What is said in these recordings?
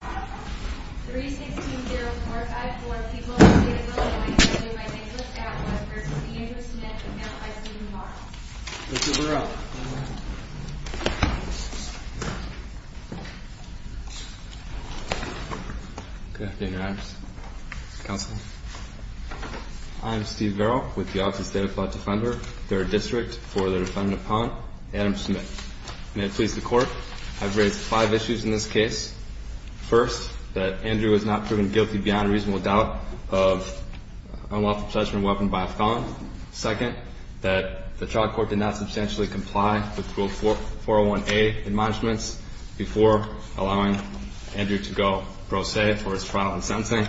3-16-0454, People of the State of Illinois, and I hereby make this Statement with reference to the Andrew Smith Account by Stephen Varel. Mr. Varel. Good afternoon, Your Honors. Counsel. I am Steve Varel, with the Office of State Appellate Defender, 3rd District, for the defendant upon, Adam Smith. May it please the Court, I have raised five issues in this case. First, that Andrew was not proven guilty beyond reasonable doubt of unlawful possession of a weapon by a felon. Second, that the trial court did not substantially comply with Rule 401A admonishments before allowing Andrew to go pro se for his trial in Sentencing.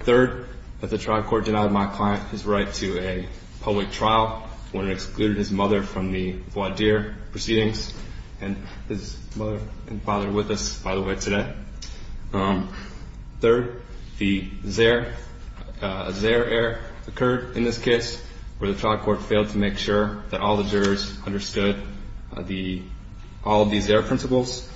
Third, that the trial court denied my client his right to a public trial when it excluded his mother from the voir dire proceedings. And his mother and father are with us, by the way, today. Third, the Zaire error occurred in this case where the trial court failed to make sure that all the jurors understood all of the Zaire principles.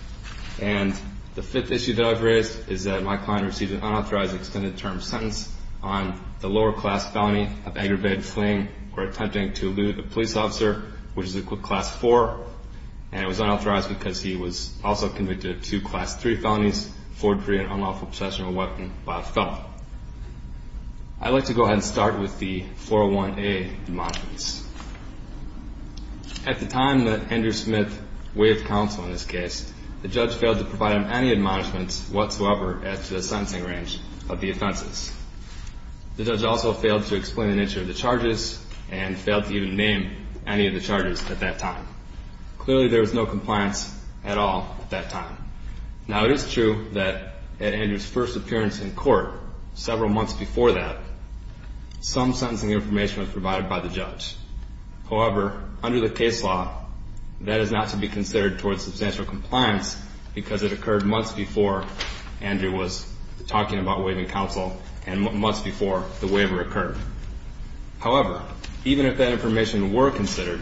And the fifth issue that I've raised is that my client received an unauthorized extended term sentence on the lower class felony of aggravated fleeing or attempting to elude a police officer, which is class 4. And it was unauthorized because he was also convicted of two class 3 felonies, forgery and unlawful possession of a weapon by a felon. I'd like to go ahead and start with the 401A admonishments. At the time that Andrew Smith waived counsel in this case, the judge failed to provide him any admonishments whatsoever as to the sentencing range of the offenses. The judge also failed to explain the nature of the charges and failed to even name any of the charges at that time. Clearly, there was no compliance at all at that time. Now, it is true that at Andrew's first appearance in court several months before that, some sentencing information was provided by the judge. However, under the case law, that is not to be considered towards substantial compliance because it occurred months before Andrew was talking about waiving counsel and months before the waiver occurred. However, even if that information were considered,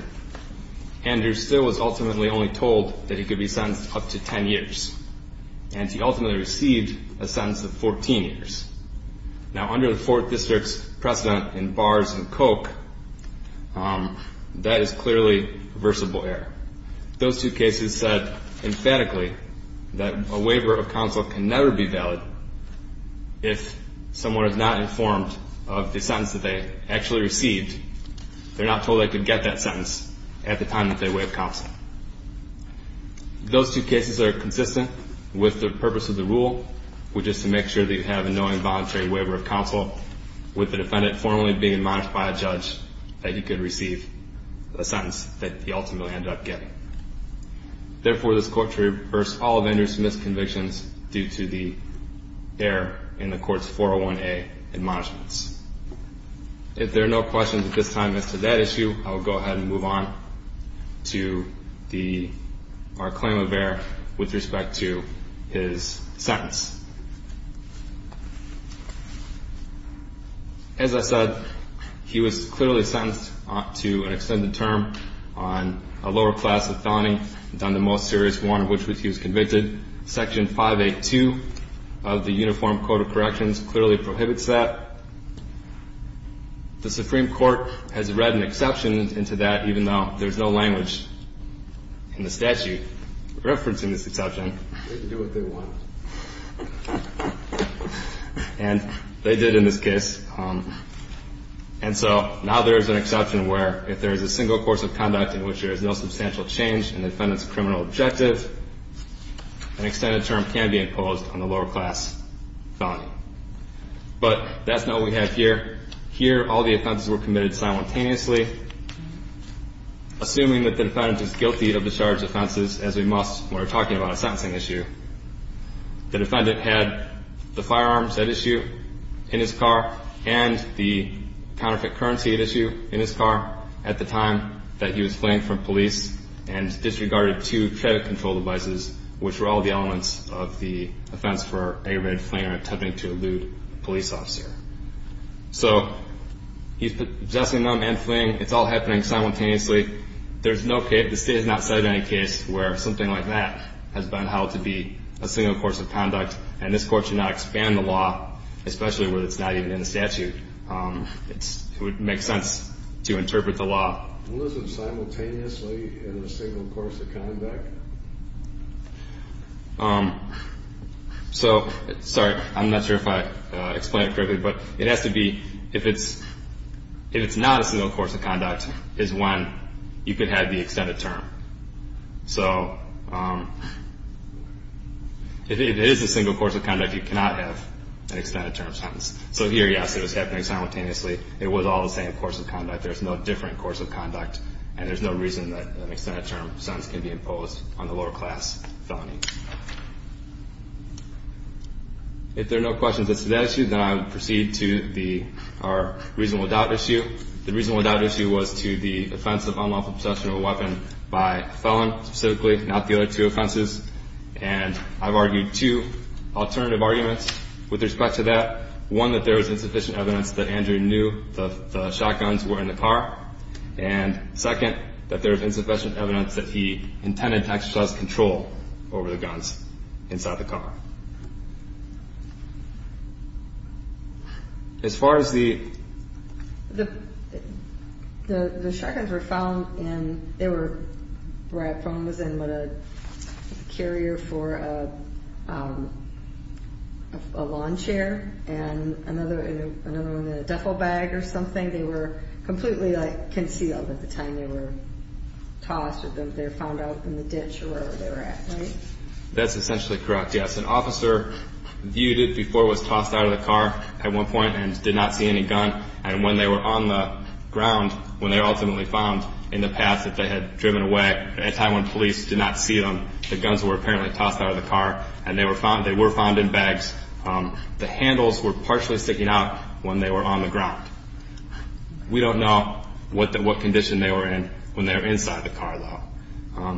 Andrew still was ultimately only told that he could be sentenced up to 10 years. And he ultimately received a sentence of 14 years. Now, under the 4th District's precedent in bars and coke, that is clearly a reversible error. Those two cases said emphatically that a waiver of counsel can never be valid if someone is not informed of the sentence that they actually received. They're not told they could get that sentence at the time that they waived counsel. Those two cases are consistent with the purpose of the rule, which is to make sure that you have a knowing voluntary waiver of counsel with the defendant formally being admonished by a judge that he could receive a sentence that he ultimately ended up getting. Therefore, this court reversed all of Andrew's misconvictions due to the error in the court's 401A admonishments. If there are no questions at this time as to that issue, I will go ahead and move on to our claim of error with respect to his sentence. As I said, he was clearly sentenced to an extended term on a lower class of felony than the most serious one of which he was convicted. Section 582 of the Uniform Code of Corrections clearly prohibits that. The Supreme Court has read an exception into that even though there's no language in the statute referencing this exception. They can do what they want. And they did in this case. And so now there is an exception where if there is a single course of conduct in which there is no substantial change in the defendant's criminal objective, an extended term can be imposed on the lower class felony. But that's not what we have here. Here, all the offenses were committed simultaneously. Assuming that the defendant is guilty of the charged offenses, as we must when we're talking about a sentencing issue, the defendant had the firearms at issue in his car and the counterfeit currency at issue in his car at the time that he was fleeing from police and disregarded two credit control devices, which were all the elements of the offense for aggravated fleeing or attempting to elude a police officer. So he's possessing them and fleeing. It's all happening simultaneously. There's no case, the State has not cited any case where something like that has been held to be a single course of conduct. And this Court should not expand the law, especially where it's not even in the statute. It would make sense to interpret the law. Was it simultaneously in a single course of conduct? So, sorry, I'm not sure if I explained it correctly, but it has to be if it's not a single course of conduct is when you could have the extended term. So if it is a single course of conduct, you cannot have an extended term sentence. So here, yes, it was happening simultaneously. It was all the same course of conduct. And there's no reason that an extended term sentence can be imposed on the lower class felonies. If there are no questions as to that issue, then I will proceed to our reasonable doubt issue. The reasonable doubt issue was to the offense of unlawful possession of a weapon by a felon specifically, not the other two offenses. And I've argued two alternative arguments with respect to that. One, that there was insufficient evidence that Andrew knew the shotguns were in the car. And second, that there was insufficient evidence that he intended to exercise control over the guns inside the car. As far as the. The shotguns were found in, they were where I found them was in a carrier for a lawn chair and another in a duffel bag or something. They were completely like concealed at the time they were tossed or they were found out in the ditch or wherever they were at, right? That's essentially correct, yes. There was an officer viewed it before it was tossed out of the car at one point and did not see any gun. And when they were on the ground, when they were ultimately found in the path that they had driven away, at a time when police did not see them, the guns were apparently tossed out of the car and they were found in bags. The handles were partially sticking out when they were on the ground. We don't know what condition they were in when they were inside the car, though.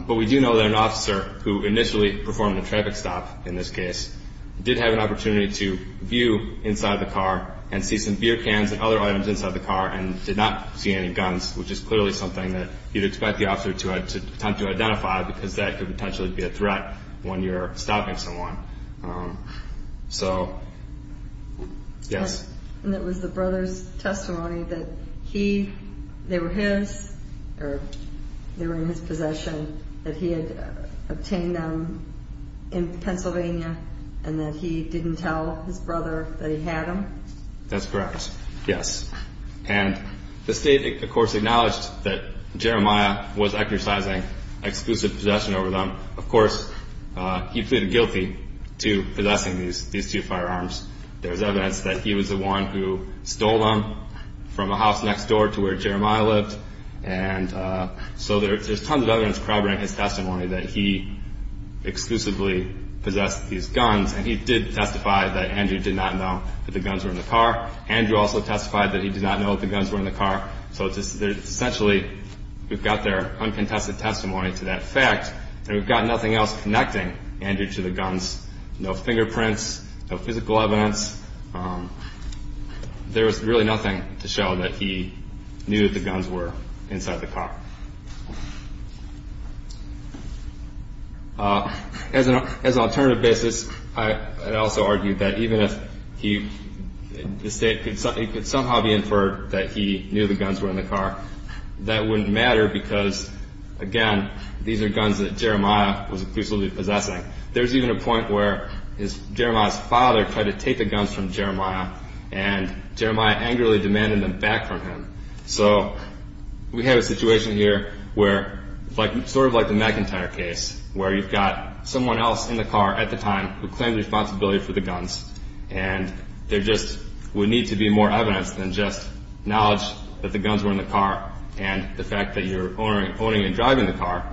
But we do know that an officer who initially performed a traffic stop in this case did have an opportunity to view inside the car and see some beer cans and other items inside the car and did not see any guns, which is clearly something that you'd expect the officer to attempt to identify because that could potentially be a threat when you're stopping someone. So, yes. And it was the brother's testimony that they were his or they were in his possession, that he had obtained them in Pennsylvania and that he didn't tell his brother that he had them? That's correct, yes. And the state, of course, acknowledged that Jeremiah was exercising exclusive possession over them. Of course, he pleaded guilty to possessing these two firearms. There's evidence that he was the one who stole them from a house next door to where Jeremiah lived. And so there's tons of evidence corroborating his testimony that he exclusively possessed these guns, and he did testify that Andrew did not know that the guns were in the car. Andrew also testified that he did not know that the guns were in the car. So essentially, we've got their uncontested testimony to that fact, and we've got nothing else connecting Andrew to the guns. No fingerprints, no physical evidence. There was really nothing to show that he knew that the guns were inside the car. As an alternative basis, I'd also argue that even if the state could somehow be inferred that he knew the guns were in the car, that wouldn't matter because, again, these are guns that Jeremiah was exclusively possessing. There's even a point where Jeremiah's father tried to take the guns from Jeremiah, and Jeremiah angrily demanded them back from him. So we have a situation here where, sort of like the McIntyre case, where you've got someone else in the car at the time who claimed responsibility for the guns, and there just would need to be more evidence than just knowledge that the guns were in the car and the fact that you're owning and driving the car.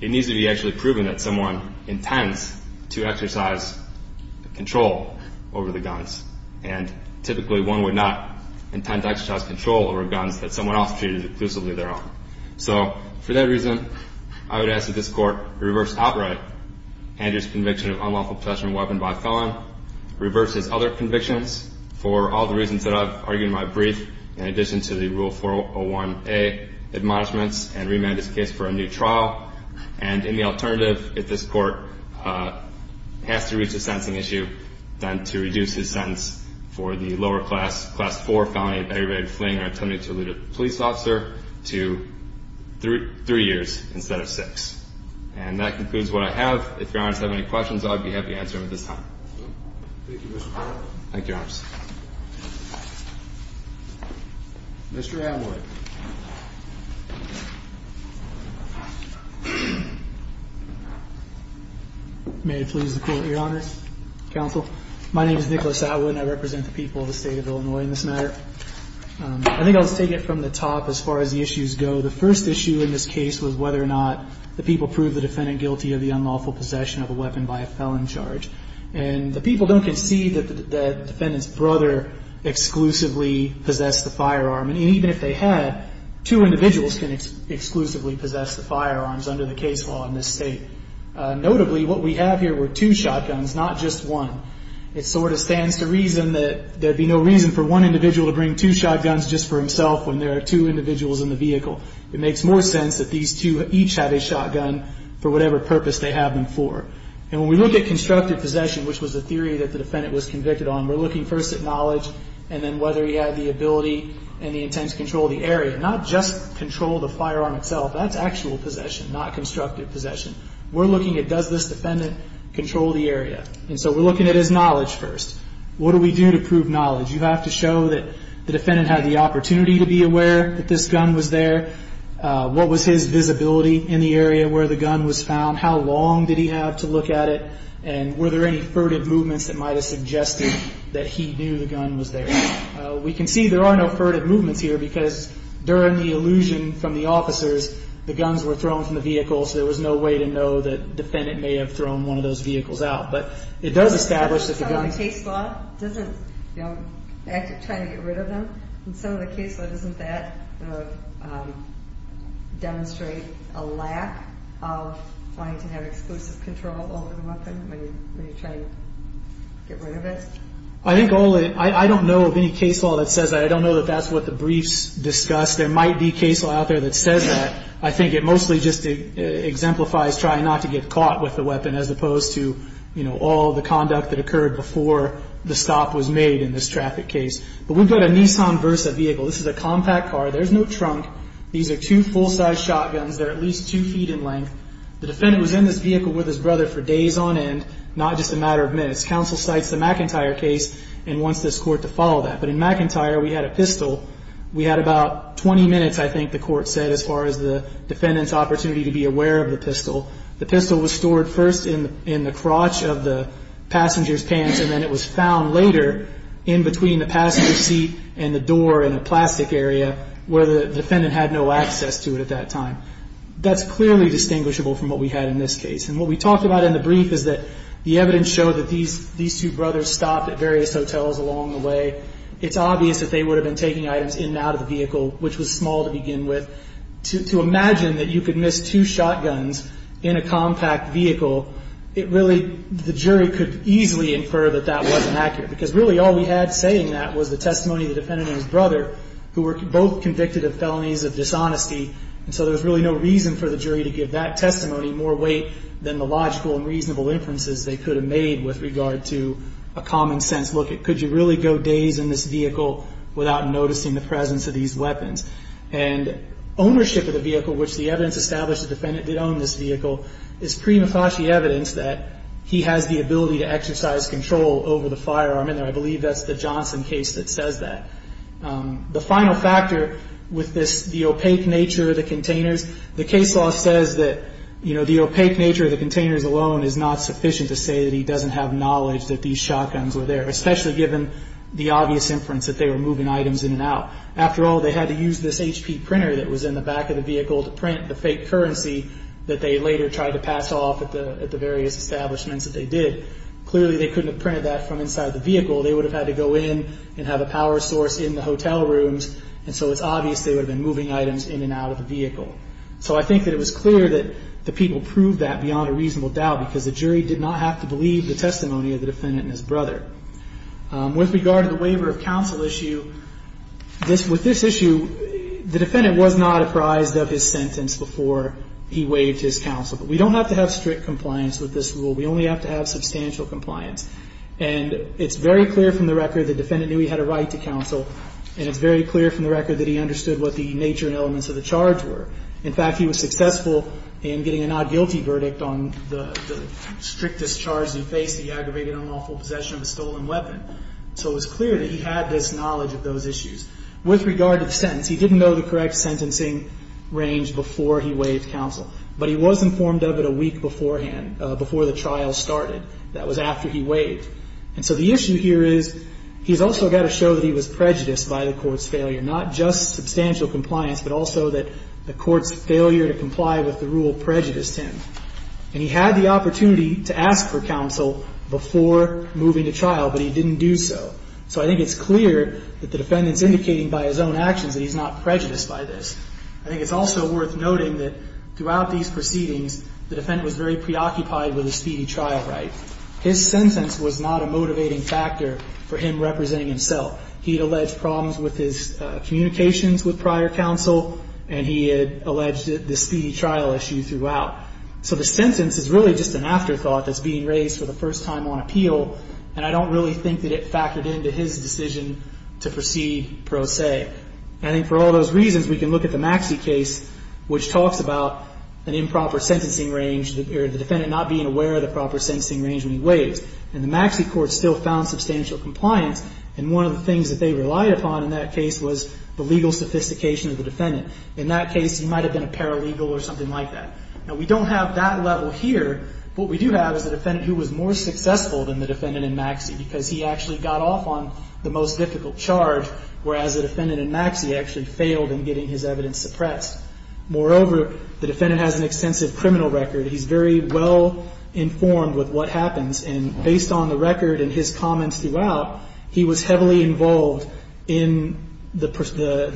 It needs to be actually proven that someone intends to exercise control over the guns, and typically one would not intend to exercise control over guns that someone else treated exclusively their own. So for that reason, I would ask that this Court reverse outright Andrew's conviction of unlawful possession of a weapon by a felon and reverse his other convictions for all the reasons that I've argued in my brief, in addition to the Rule 401A admonishments, and remand his case for a new trial. And in the alternative, if this Court has to reach a sentencing issue, then to reduce his sentence for the lower class, Class 4 felony of aggravated fleeing or attempted to elude a police officer to three years instead of six. And that concludes what I have. If Your Honors have any questions, I'd be happy to answer them at this time. Thank you, Mr. Carter. Thank you, Your Honors. Mr. Atwood. May it please the Court, Your Honors, Counsel. My name is Nicholas Atwood, and I represent the people of the State of Illinois in this matter. I think I'll just take it from the top as far as the issues go. The first issue in this case was whether or not the people proved the defendant guilty of the unlawful possession of a weapon by a felon charge. And the people don't concede that the defendant's brother exclusively possessed the firearm. And even if they had, two individuals can exclusively possess the firearms under the case law in this State. Notably, what we have here were two shotguns, not just one. It sort of stands to reason that there'd be no reason for one individual to bring two shotguns just for himself when there are two individuals in the vehicle. It makes more sense that these two each have a shotgun for whatever purpose they have them for. And when we look at constructive possession, which was the theory that the defendant was convicted on, we're looking first at knowledge and then whether he had the ability and the intent to control the area, not just control the firearm itself. That's actual possession, not constructive possession. We're looking at does this defendant control the area. And so we're looking at his knowledge first. What do we do to prove knowledge? You have to show that the defendant had the opportunity to be aware that this gun was there. What was his visibility in the area where the gun was found? How long did he have to look at it? And were there any furtive movements that might have suggested that he knew the gun was there? We can see there are no furtive movements here because during the illusion from the officers, the guns were thrown from the vehicle, so there was no way to know that the defendant may have thrown one of those vehicles out. But it does establish that the gun... Some of the case law doesn't, you know, act of trying to get rid of them, and some of the case law doesn't that demonstrate a lack of wanting to have exclusive control over the weapon when you're trying to get rid of it? I don't know of any case law that says that. I don't know that that's what the briefs discuss. There might be case law out there that says that. I think it mostly just exemplifies trying not to get caught with the weapon as opposed to, you know, all the conduct that occurred before the stop was made in this traffic case. But we've got a Nissan Versa vehicle. This is a compact car. There's no trunk. These are two full-size shotguns that are at least two feet in length. The defendant was in this vehicle with his brother for days on end, not just a matter of minutes. Counsel cites the McIntyre case and wants this court to follow that. But in McIntyre, we had a pistol. We had about 20 minutes, I think the court said, as far as the defendant's opportunity to be aware of the pistol. The pistol was stored first in the crotch of the passenger's pants, and then it was found later in between the passenger seat and the door in a plastic area where the defendant had no access to it at that time. That's clearly distinguishable from what we had in this case. And what we talked about in the brief is that the evidence showed that these two brothers stopped at various hotels along the way. It's obvious that they would have been taking items in and out of the vehicle, which was small to begin with. To imagine that you could miss two shotguns in a compact vehicle, it really the jury could easily infer that that wasn't accurate, because really all we had saying that was the testimony of the defendant and his brother, who were both convicted of felonies of dishonesty. And so there was really no reason for the jury to give that testimony more weight than the logical and reasonable inferences they could have made with regard to a common sense look. Could you really go days in this vehicle without noticing the presence of these weapons? And ownership of the vehicle, which the evidence established the defendant did own this vehicle, is prima facie evidence that he has the ability to exercise control over the firearm in there. I believe that's the Johnson case that says that. The final factor with the opaque nature of the containers, the case law says that the opaque nature of the containers alone is not sufficient to say that he doesn't have knowledge that these shotguns were there, especially given the obvious inference that they were moving items in and out. After all, they had to use this HP printer that was in the back of the vehicle to print the fake currency that they later tried to pass off at the various establishments that they did. Clearly they couldn't have printed that from inside the vehicle. They would have had to go in and have a power source in the hotel rooms, and so it's obvious they would have been moving items in and out of the vehicle. So I think that it was clear that the people proved that beyond a reasonable doubt, because the jury did not have to believe the testimony of the defendant and his brother. With regard to the waiver of counsel issue, with this issue, the defendant was not apprised of his sentence before he waived his counsel. But we don't have to have strict compliance with this rule. We only have to have substantial compliance. And it's very clear from the record the defendant knew he had a right to counsel, and it's very clear from the record that he understood what the nature and elements of the charge were. In fact, he was successful in getting a not guilty verdict on the strictest charge that he faced, the aggravated unlawful possession of a stolen weapon. So it was clear that he had this knowledge of those issues. With regard to the sentence, he didn't know the correct sentencing range before he waived counsel, but he was informed of it a week beforehand, before the trial started. That was after he waived. And so the issue here is he's also got to show that he was prejudiced by the Court's failure, not just substantial compliance, but also that the Court's failure to comply with the rule prejudiced him. And he had the opportunity to ask for counsel before moving to trial, but he didn't do so. So I think it's clear that the defendant's indicating by his own actions that he's not prejudiced by this. I think it's also worth noting that throughout these proceedings, the defendant was very preoccupied with his speedy trial right. His sentence was not a motivating factor for him representing himself. He had alleged problems with his communications with prior counsel, and he had alleged the speedy trial issue throughout. So the sentence is really just an afterthought that's being raised for the first time on appeal, and I don't really think that it factored into his decision to proceed pro se. I think for all those reasons, we can look at the Maxie case, which talks about an improper sentencing range, the defendant not being aware of the proper sentencing range when he waived. And the Maxie court still found substantial compliance, and one of the things that they relied upon in that case was the legal sophistication of the defendant. In that case, he might have been a paralegal or something like that. Now, we don't have that level here. What we do have is a defendant who was more successful than the defendant in Maxie because he actually got off on the most difficult charge, whereas the defendant in Maxie actually failed in getting his evidence suppressed. Moreover, the defendant has an extensive criminal record. He's very well informed with what happens, and based on the record and his comments throughout, he was heavily involved in the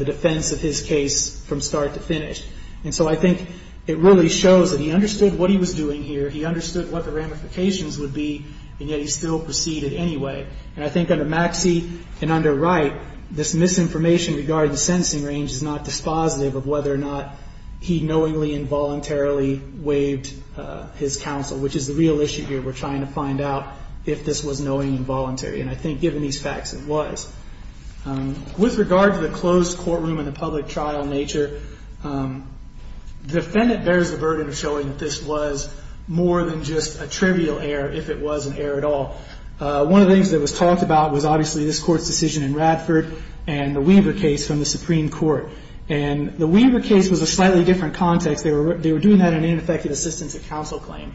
defense of his case from start to finish. And so I think it really shows that he understood what he was doing here, he understood what the ramifications would be, and yet he still proceeded anyway. And I think under Maxie and under Wright, this misinformation regarding the sentencing range is not dispositive of whether or not he knowingly and voluntarily waived his counsel, which is the real issue here. We're trying to find out if this was knowingly and voluntarily, and I think given these facts, it was. With regard to the closed courtroom and the public trial nature, the defendant bears the burden of showing that this was more than just a trivial error if it was an error at all. One of the things that was talked about was obviously this Court's decision in Radford and the Weaver case from the Supreme Court. And the Weaver case was a slightly different context. They were doing that in an ineffective assistance of counsel claim.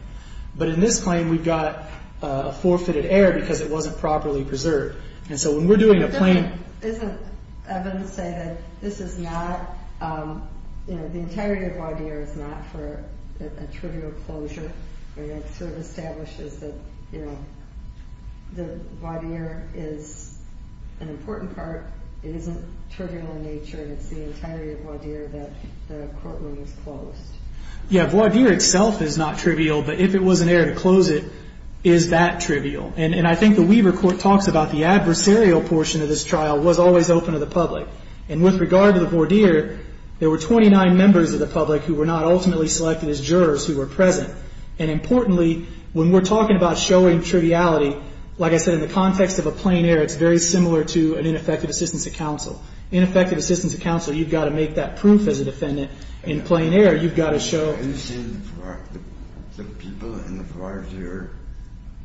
But in this claim, we've got a forfeited error because it wasn't properly preserved. And so when we're doing a plaintiff. Isn't it evident to say that this is not, you know, the entirety of voir dire is not for a trivial closure? It sort of establishes that, you know, the voir dire is an important part. It isn't trivial in nature, and it's the entirety of voir dire that the courtroom is closed. Yeah, voir dire itself is not trivial, but if it was an error to close it, is that trivial? And I think the Weaver court talks about the adversarial portion of this trial was always open to the public. And with regard to the voir dire, there were 29 members of the public who were not ultimately selected as jurors who were present. And importantly, when we're talking about showing triviality, like I said, in the context of a plain error, it's very similar to an ineffective assistance of counsel. Ineffective assistance of counsel, you've got to make that proof as a defendant. In plain error, you've got to show. Have you seen the people in the voir dire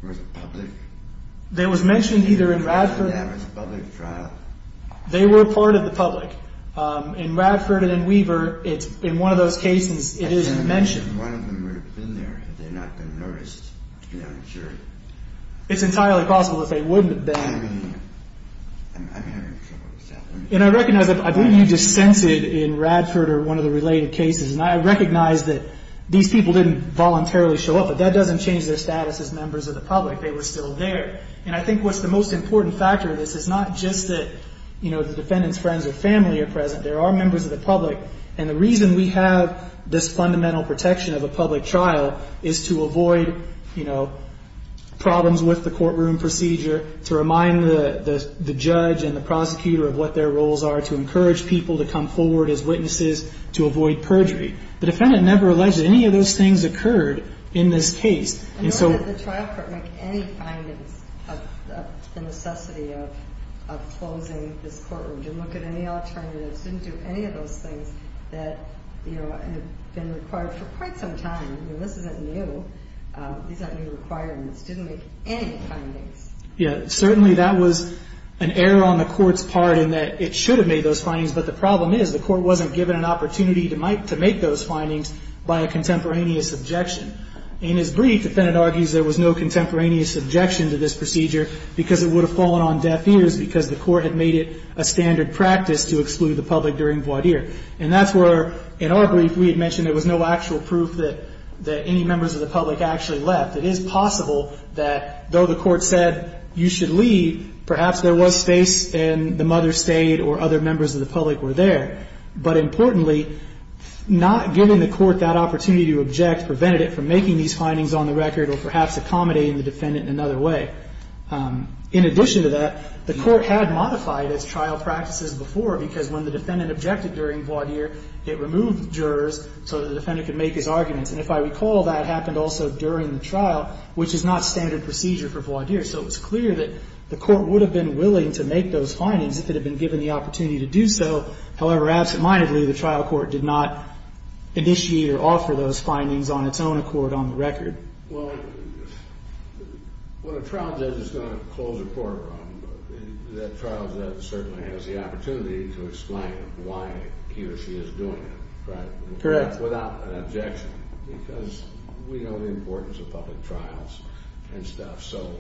with the public? They was mentioned either in Radford. That was a public trial. They were part of the public. In Radford and in Weaver, in one of those cases, it is mentioned. One of them would have been there had they not been noticed to be on the jury. It's entirely possible that they wouldn't have been. And I recognize that I believe you just censored in Radford or one of the related cases. And I recognize that these people didn't voluntarily show up, but that doesn't change their status as members of the public. They were still there. And I think what's the most important factor in this is not just that, you know, the defendant's friends or family are present. There are members of the public. And the reason we have this fundamental protection of a public trial is to avoid, you know, problems with the courtroom procedure, to remind the judge and the prosecutor of what their roles are, to encourage people to come forward as witnesses, to avoid perjury. The defendant never alleged that any of those things occurred in this case. I know that the trial court didn't make any findings of the necessity of closing this courtroom. Didn't look at any alternatives. Didn't do any of those things that, you know, have been required for quite some time. I mean, this isn't new. These aren't new requirements. Didn't make any findings. Yeah. Certainly that was an error on the court's part in that it should have made those findings. But the problem is the court wasn't given an opportunity to make those findings by a contemporaneous objection. In his brief, the defendant argues there was no contemporaneous objection to this procedure because it would have fallen on deaf ears because the court had made it a standard practice to exclude the public during voir dire. And that's where, in our brief, we had mentioned there was no actual proof that any members of the public actually left. It is possible that, though the court said you should leave, perhaps there was space and the mother stayed or other members of the public were there. But importantly, not giving the court that opportunity to object prevented it from making these findings on the record or perhaps accommodating the defendant in another way. In addition to that, the court had modified its trial practices before because when the defendant objected during voir dire, it removed jurors so the defendant could make his arguments. And if I recall, that happened also during the trial, which is not standard procedure for voir dire. So it was clear that the court would have been willing to make those findings if it had been given the opportunity to do so. However, absentmindedly, the trial court did not initiate or offer those findings on its own accord on the record. Well, when a trial judge is going to close a court, that trial judge certainly has the opportunity to explain why he or she is doing it, right? Correct. Without an objection because we know the importance of public trials and stuff. So,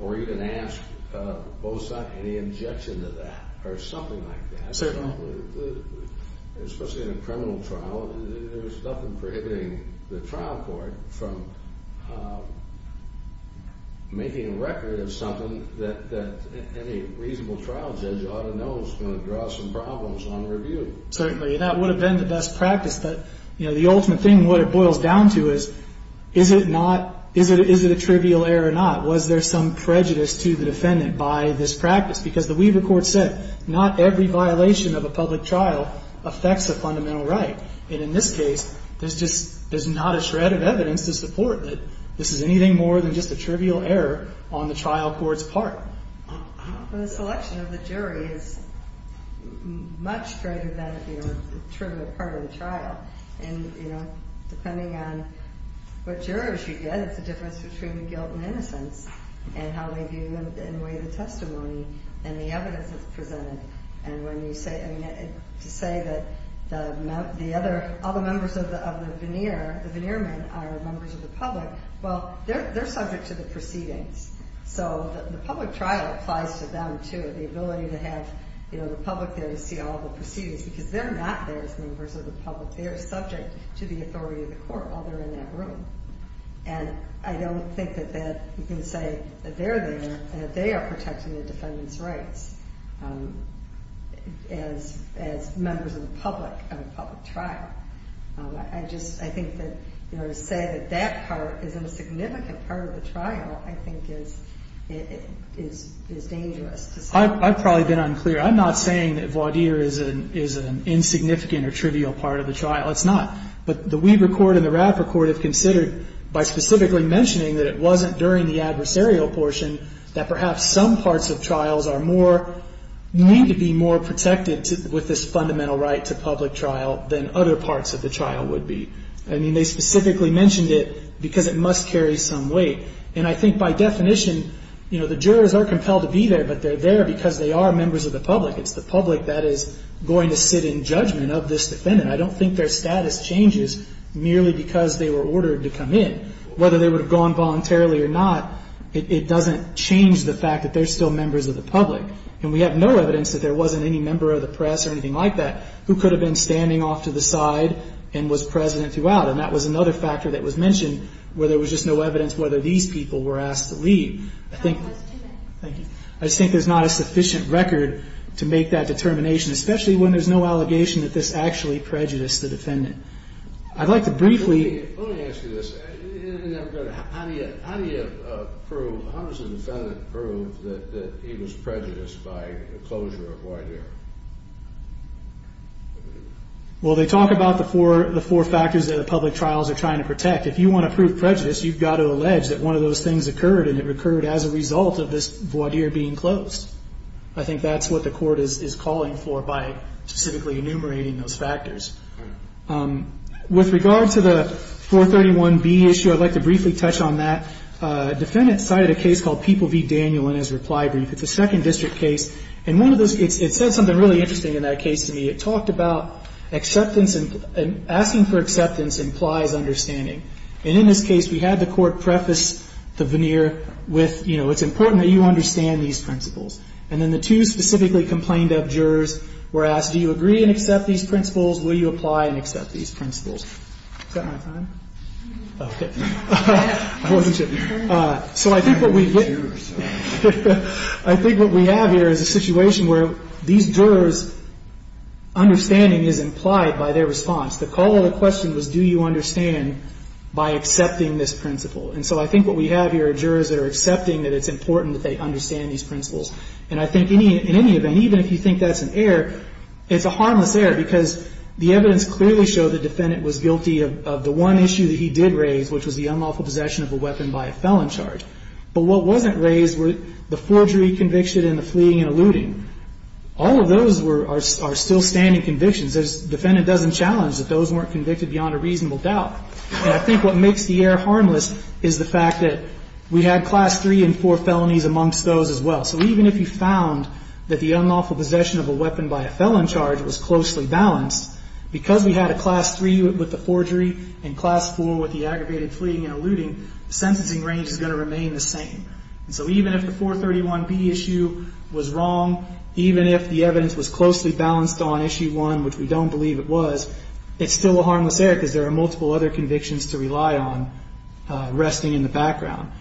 or you can ask BOSAC any objection to that or something like that. Certainly. Especially in a criminal trial, there's nothing prohibiting the trial court from making a record of something that any reasonable trial judge ought to know is going to draw some problems on review. Certainly. And that would have been the best practice. But, you know, the ultimate thing, what it boils down to is, is it not, is it a trivial error or not? Was there some prejudice to the defendant by this practice? Because the Weaver court said not every violation of a public trial affects a And in this case, there's just, there's not a shred of evidence to support that this is anything more than just a trivial error on the trial court's part. The selection of the jury is much greater than the trivial part of the trial. And, you know, depending on what jurors you get, it's a difference between the guilt and innocence and how they view and weigh the testimony and the evidence that's presented. And when you say, I mean, to say that the other, all the members of the, of the veneer, the veneer men are members of the public. Well, they're, they're subject to the proceedings. So the public trial applies to them too. The ability to have, you know, the public there to see all the proceedings because they're not there as members of the public. They are subject to the authority of the court while they're in that room. And I don't think that that you can say that they're there and that they are protecting the defendant's rights. As, as members of the public of a public trial. I just, I think that, you know, to say that that part isn't a significant part of the trial, I think is, is, is dangerous to say. I've probably been unclear. I'm not saying that voir dire is an insignificant or trivial part of the trial. It's not. But the Weaver court and the Raffer court have considered by specifically mentioning that it wasn't during the adversarial portion that perhaps some parts of trials are more, need to be more protected with this fundamental right to public trial than other parts of the trial would be. I mean, they specifically mentioned it because it must carry some weight. And I think by definition, you know, the jurors are compelled to be there, but they're there because they are members of the public. It's the public that is going to sit in judgment of this defendant. I don't think their status changes merely because they were ordered to come in. Whether they would have gone voluntarily or not, it doesn't change the fact that they're still members of the public. And we have no evidence that there wasn't any member of the press or anything like that who could have been standing off to the side and was present throughout. And that was another factor that was mentioned where there was just no evidence whether these people were asked to leave. I think there's not a sufficient record to make that determination, especially when there's no allegation that this actually prejudiced the defendant. I'd like to briefly. Let me ask you this. In that regard, how do you prove, how does the defendant prove that he was prejudiced by the closure of voir dire? Well, they talk about the four factors that the public trials are trying to protect. If you want to prove prejudice, you've got to allege that one of those things occurred and it occurred as a result of this voir dire being closed. I think that's what the court is calling for by specifically enumerating those factors. With regard to the 431B issue, I'd like to briefly touch on that. A defendant cited a case called People v. Daniel in his reply brief. It's a second district case. And one of those, it said something really interesting in that case to me. It talked about acceptance and asking for acceptance implies understanding. And in this case, we had the court preface the veneer with, you know, it's important that you understand these principles. And then the two specifically complained of jurors were asked, do you agree and accept these principles? Will you apply and accept these principles? Is that my time? Okay. I wasn't sure. So I think what we get here is a situation where these jurors' understanding is implied by their response. The call to question was, do you understand by accepting this principle? And so I think what we have here are jurors that are accepting that it's important that they understand these principles. And I think in any event, even if you think that's an error, it's a harmless error because the evidence clearly showed the defendant was guilty of the one issue that he did raise, which was the unlawful possession of a weapon by a felon charge. But what wasn't raised were the forgery conviction and the fleeing and eluding. All of those are still standing convictions. The defendant doesn't challenge that those weren't convicted beyond a reasonable doubt. And I think what makes the error harmless is the fact that we had Class III and IV felonies amongst those as well. So even if you found that the unlawful possession of a weapon by a felon charge was closely balanced, because we had a Class III with the forgery and Class IV with the aggravated fleeing and eluding, the sentencing range is going to remain the same. And so even if the 431B issue was wrong, even if the evidence was closely balanced on Issue 1, which we don't believe it was, it's still a harmless error because there are multiple other convictions to rely on resting in the background.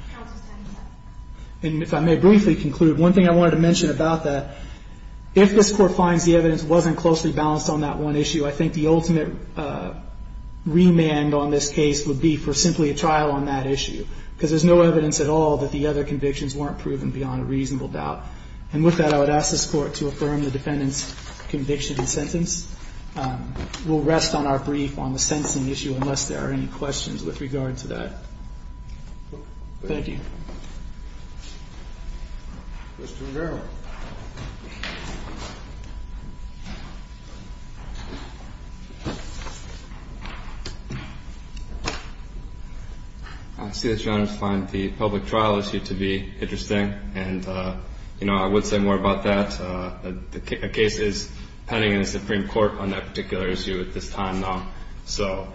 And if I may briefly conclude, one thing I wanted to mention about that, if this Court finds the evidence wasn't closely balanced on that one issue, I think the ultimate remand on this case would be for simply a trial on that issue, because there's no evidence at all that the other convictions weren't proven beyond a reasonable doubt. And with that, I would ask this Court to affirm the defendant's conviction and sentence. We'll rest on our brief on the sentencing issue unless there are any questions with regard to that. Thank you. Mr. Verrill. I see that Your Honors find the public trial issue to be interesting. And, you know, I would say more about that. The case is pending in the Supreme Court on that particular issue at this time now. So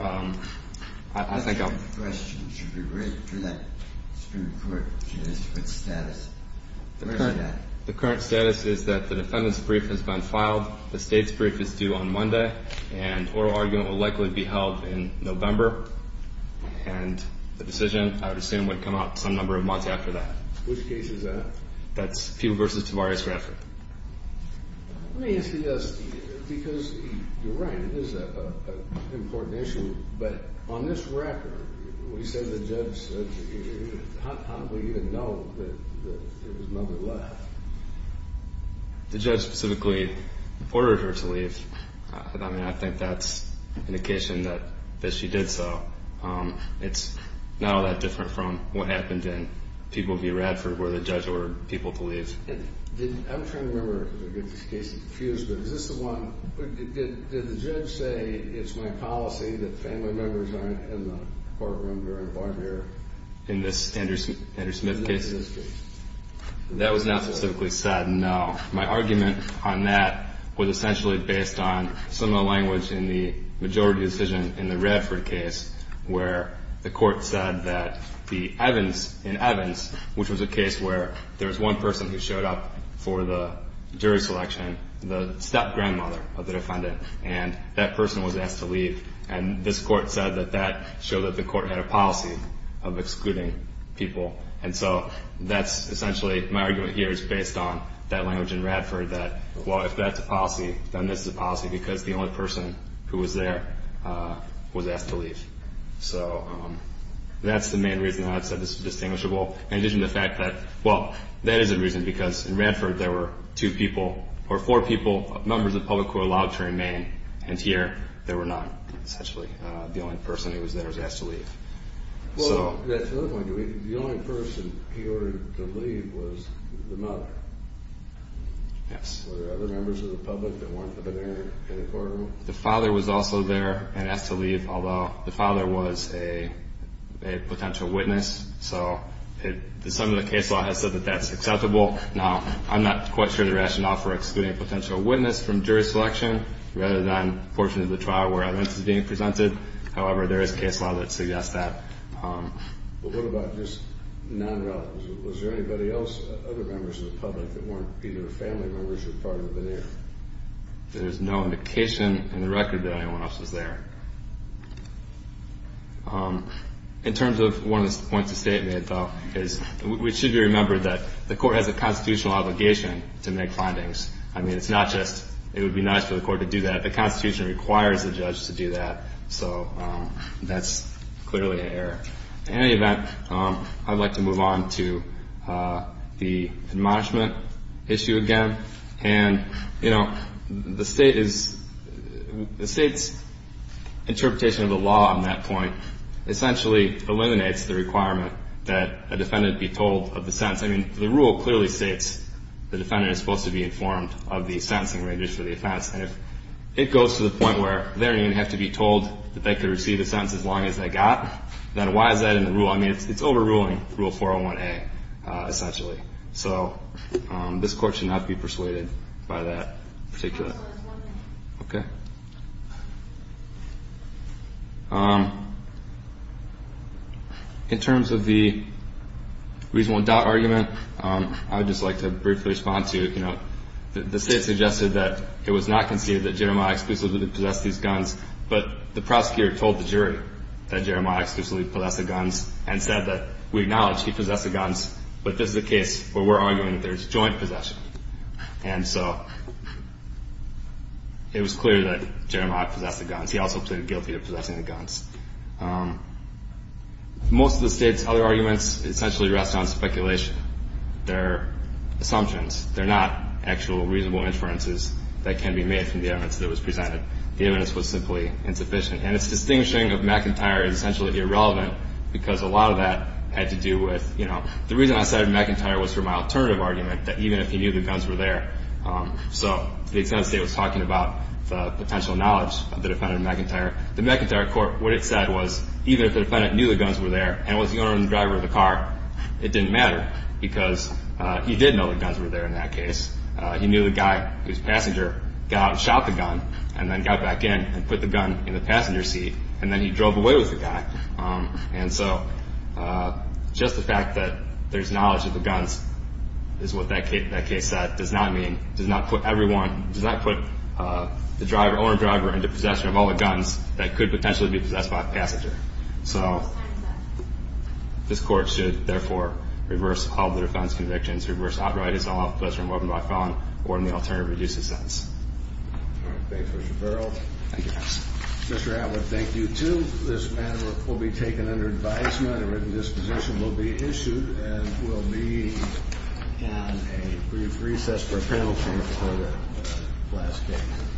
I think I'll – I have a question. Should we wait for that Supreme Court judiciary status? The current status is that the defendant's brief has been filed. The State's brief is due on Monday. And oral argument will likely be held in November. And the decision, I would assume, would come out some number of months after that. Which case is that? That's Peeble v. Tavares-Grafton. Let me ask you this. Because you're right, it is an important issue. But on this record, we said the judge said – how do we even know that his mother left? The judge specifically ordered her to leave. I mean, I think that's an indication that she did so. It's not all that different from what happened in Peeble v. Radford where the judge ordered people to leave. I'm trying to remember because I get these cases diffused. But is this the one – did the judge say, it's my policy that family members aren't in the courtroom during a bar mirror? In this Andrew Smith case? In this case. That was not specifically said, no. My argument on that was essentially based on some of the language in the majority decision in the Radford case where the court said that the Evans in Peeble v. Radford showed up for the jury selection, the step-grandmother of the defendant, and that person was asked to leave. And this court said that that showed that the court had a policy of excluding people. And so that's essentially – my argument here is based on that language in Radford that, well, if that's a policy, then this is a policy because the only person who was there was asked to leave. So that's the main reason I said this is distinguishable. In addition to the fact that, well, that is a reason because in Radford there were two people – or four people, members of the public who were allowed to remain. And here there were none. Essentially the only person who was there was asked to leave. So – The only person he ordered to leave was the mother. Yes. Were there other members of the public that weren't there in the courtroom? The father was also there and asked to leave, although the father was a potential witness. So some of the case law has said that that's acceptable. Now, I'm not quite sure the rationale for excluding a potential witness from jury selection rather than portion of the trial where evidence is being presented. However, there is case law that suggests that. Well, what about just non-relatives? Was there anybody else, other members of the public, that weren't either family members or part of the veneer? There's no indication in the record that anyone else was there. In terms of one of the points of statement, though, is we should remember that the court has a constitutional obligation to make findings. I mean, it's not just it would be nice for the court to do that. The Constitution requires the judge to do that. So that's clearly an error. In any event, I'd like to move on to the admonishment issue again. And, you know, the State is the State's interpretation of the law on that point essentially eliminates the requirement that a defendant be told of the sentence. I mean, the rule clearly states the defendant is supposed to be informed of the sentencing ranges for the offense. And if it goes to the point where they don't even have to be told that they could receive a sentence as long as they got, then why is that in the rule? I mean, it's overruling Rule 401A, essentially. So this court should not be persuaded by that particular. Okay. In terms of the reasonable doubt argument, I would just like to briefly respond to, you know, the State suggested that it was not conceded that Jeremiah exclusively possessed these guns, but the prosecutor told the jury that Jeremiah exclusively possessed the guns and said that we acknowledge he possessed the guns. But this is a case where we're arguing that there's joint possession. And so it was clear that Jeremiah possessed the guns. He also pleaded guilty to possessing the guns. Most of the State's other arguments essentially rest on speculation. They're assumptions. They're not actual reasonable inferences that can be made from the evidence that was presented. The evidence was simply insufficient. And its distinguishing of McIntyre is essentially irrelevant because a lot of that had to do with, you know, the reason I cited McIntyre was for my alternative argument, that even if he knew the guns were there. So the extent of the State was talking about the potential knowledge of the defendant McIntyre. The McIntyre court, what it said was, even if the defendant knew the guns were there and was the owner and driver of the car, it didn't matter because he did know the guns were there in that case. He knew the guy, his passenger, got out and shot the gun and then got back in and put the gun in the passenger seat, and then he drove away with the guy. And so just the fact that there's knowledge of the guns is what that case said, does not mean, does not put everyone, does not put the driver, owner and driver, into possession of all the guns that could potentially be possessed by a passenger. So this court should, therefore, reverse all the defense convictions, reverse outright his own offense, remove him by filing, or in the alternative, reduce his sentence. All right. Thank you, Mr. Farrell. Thank you, counsel. Mr. Atwood, thank you, too. This matter will be taken under advisement and a written disposition will be issued and will be on a brief recess for a penalty for the last case.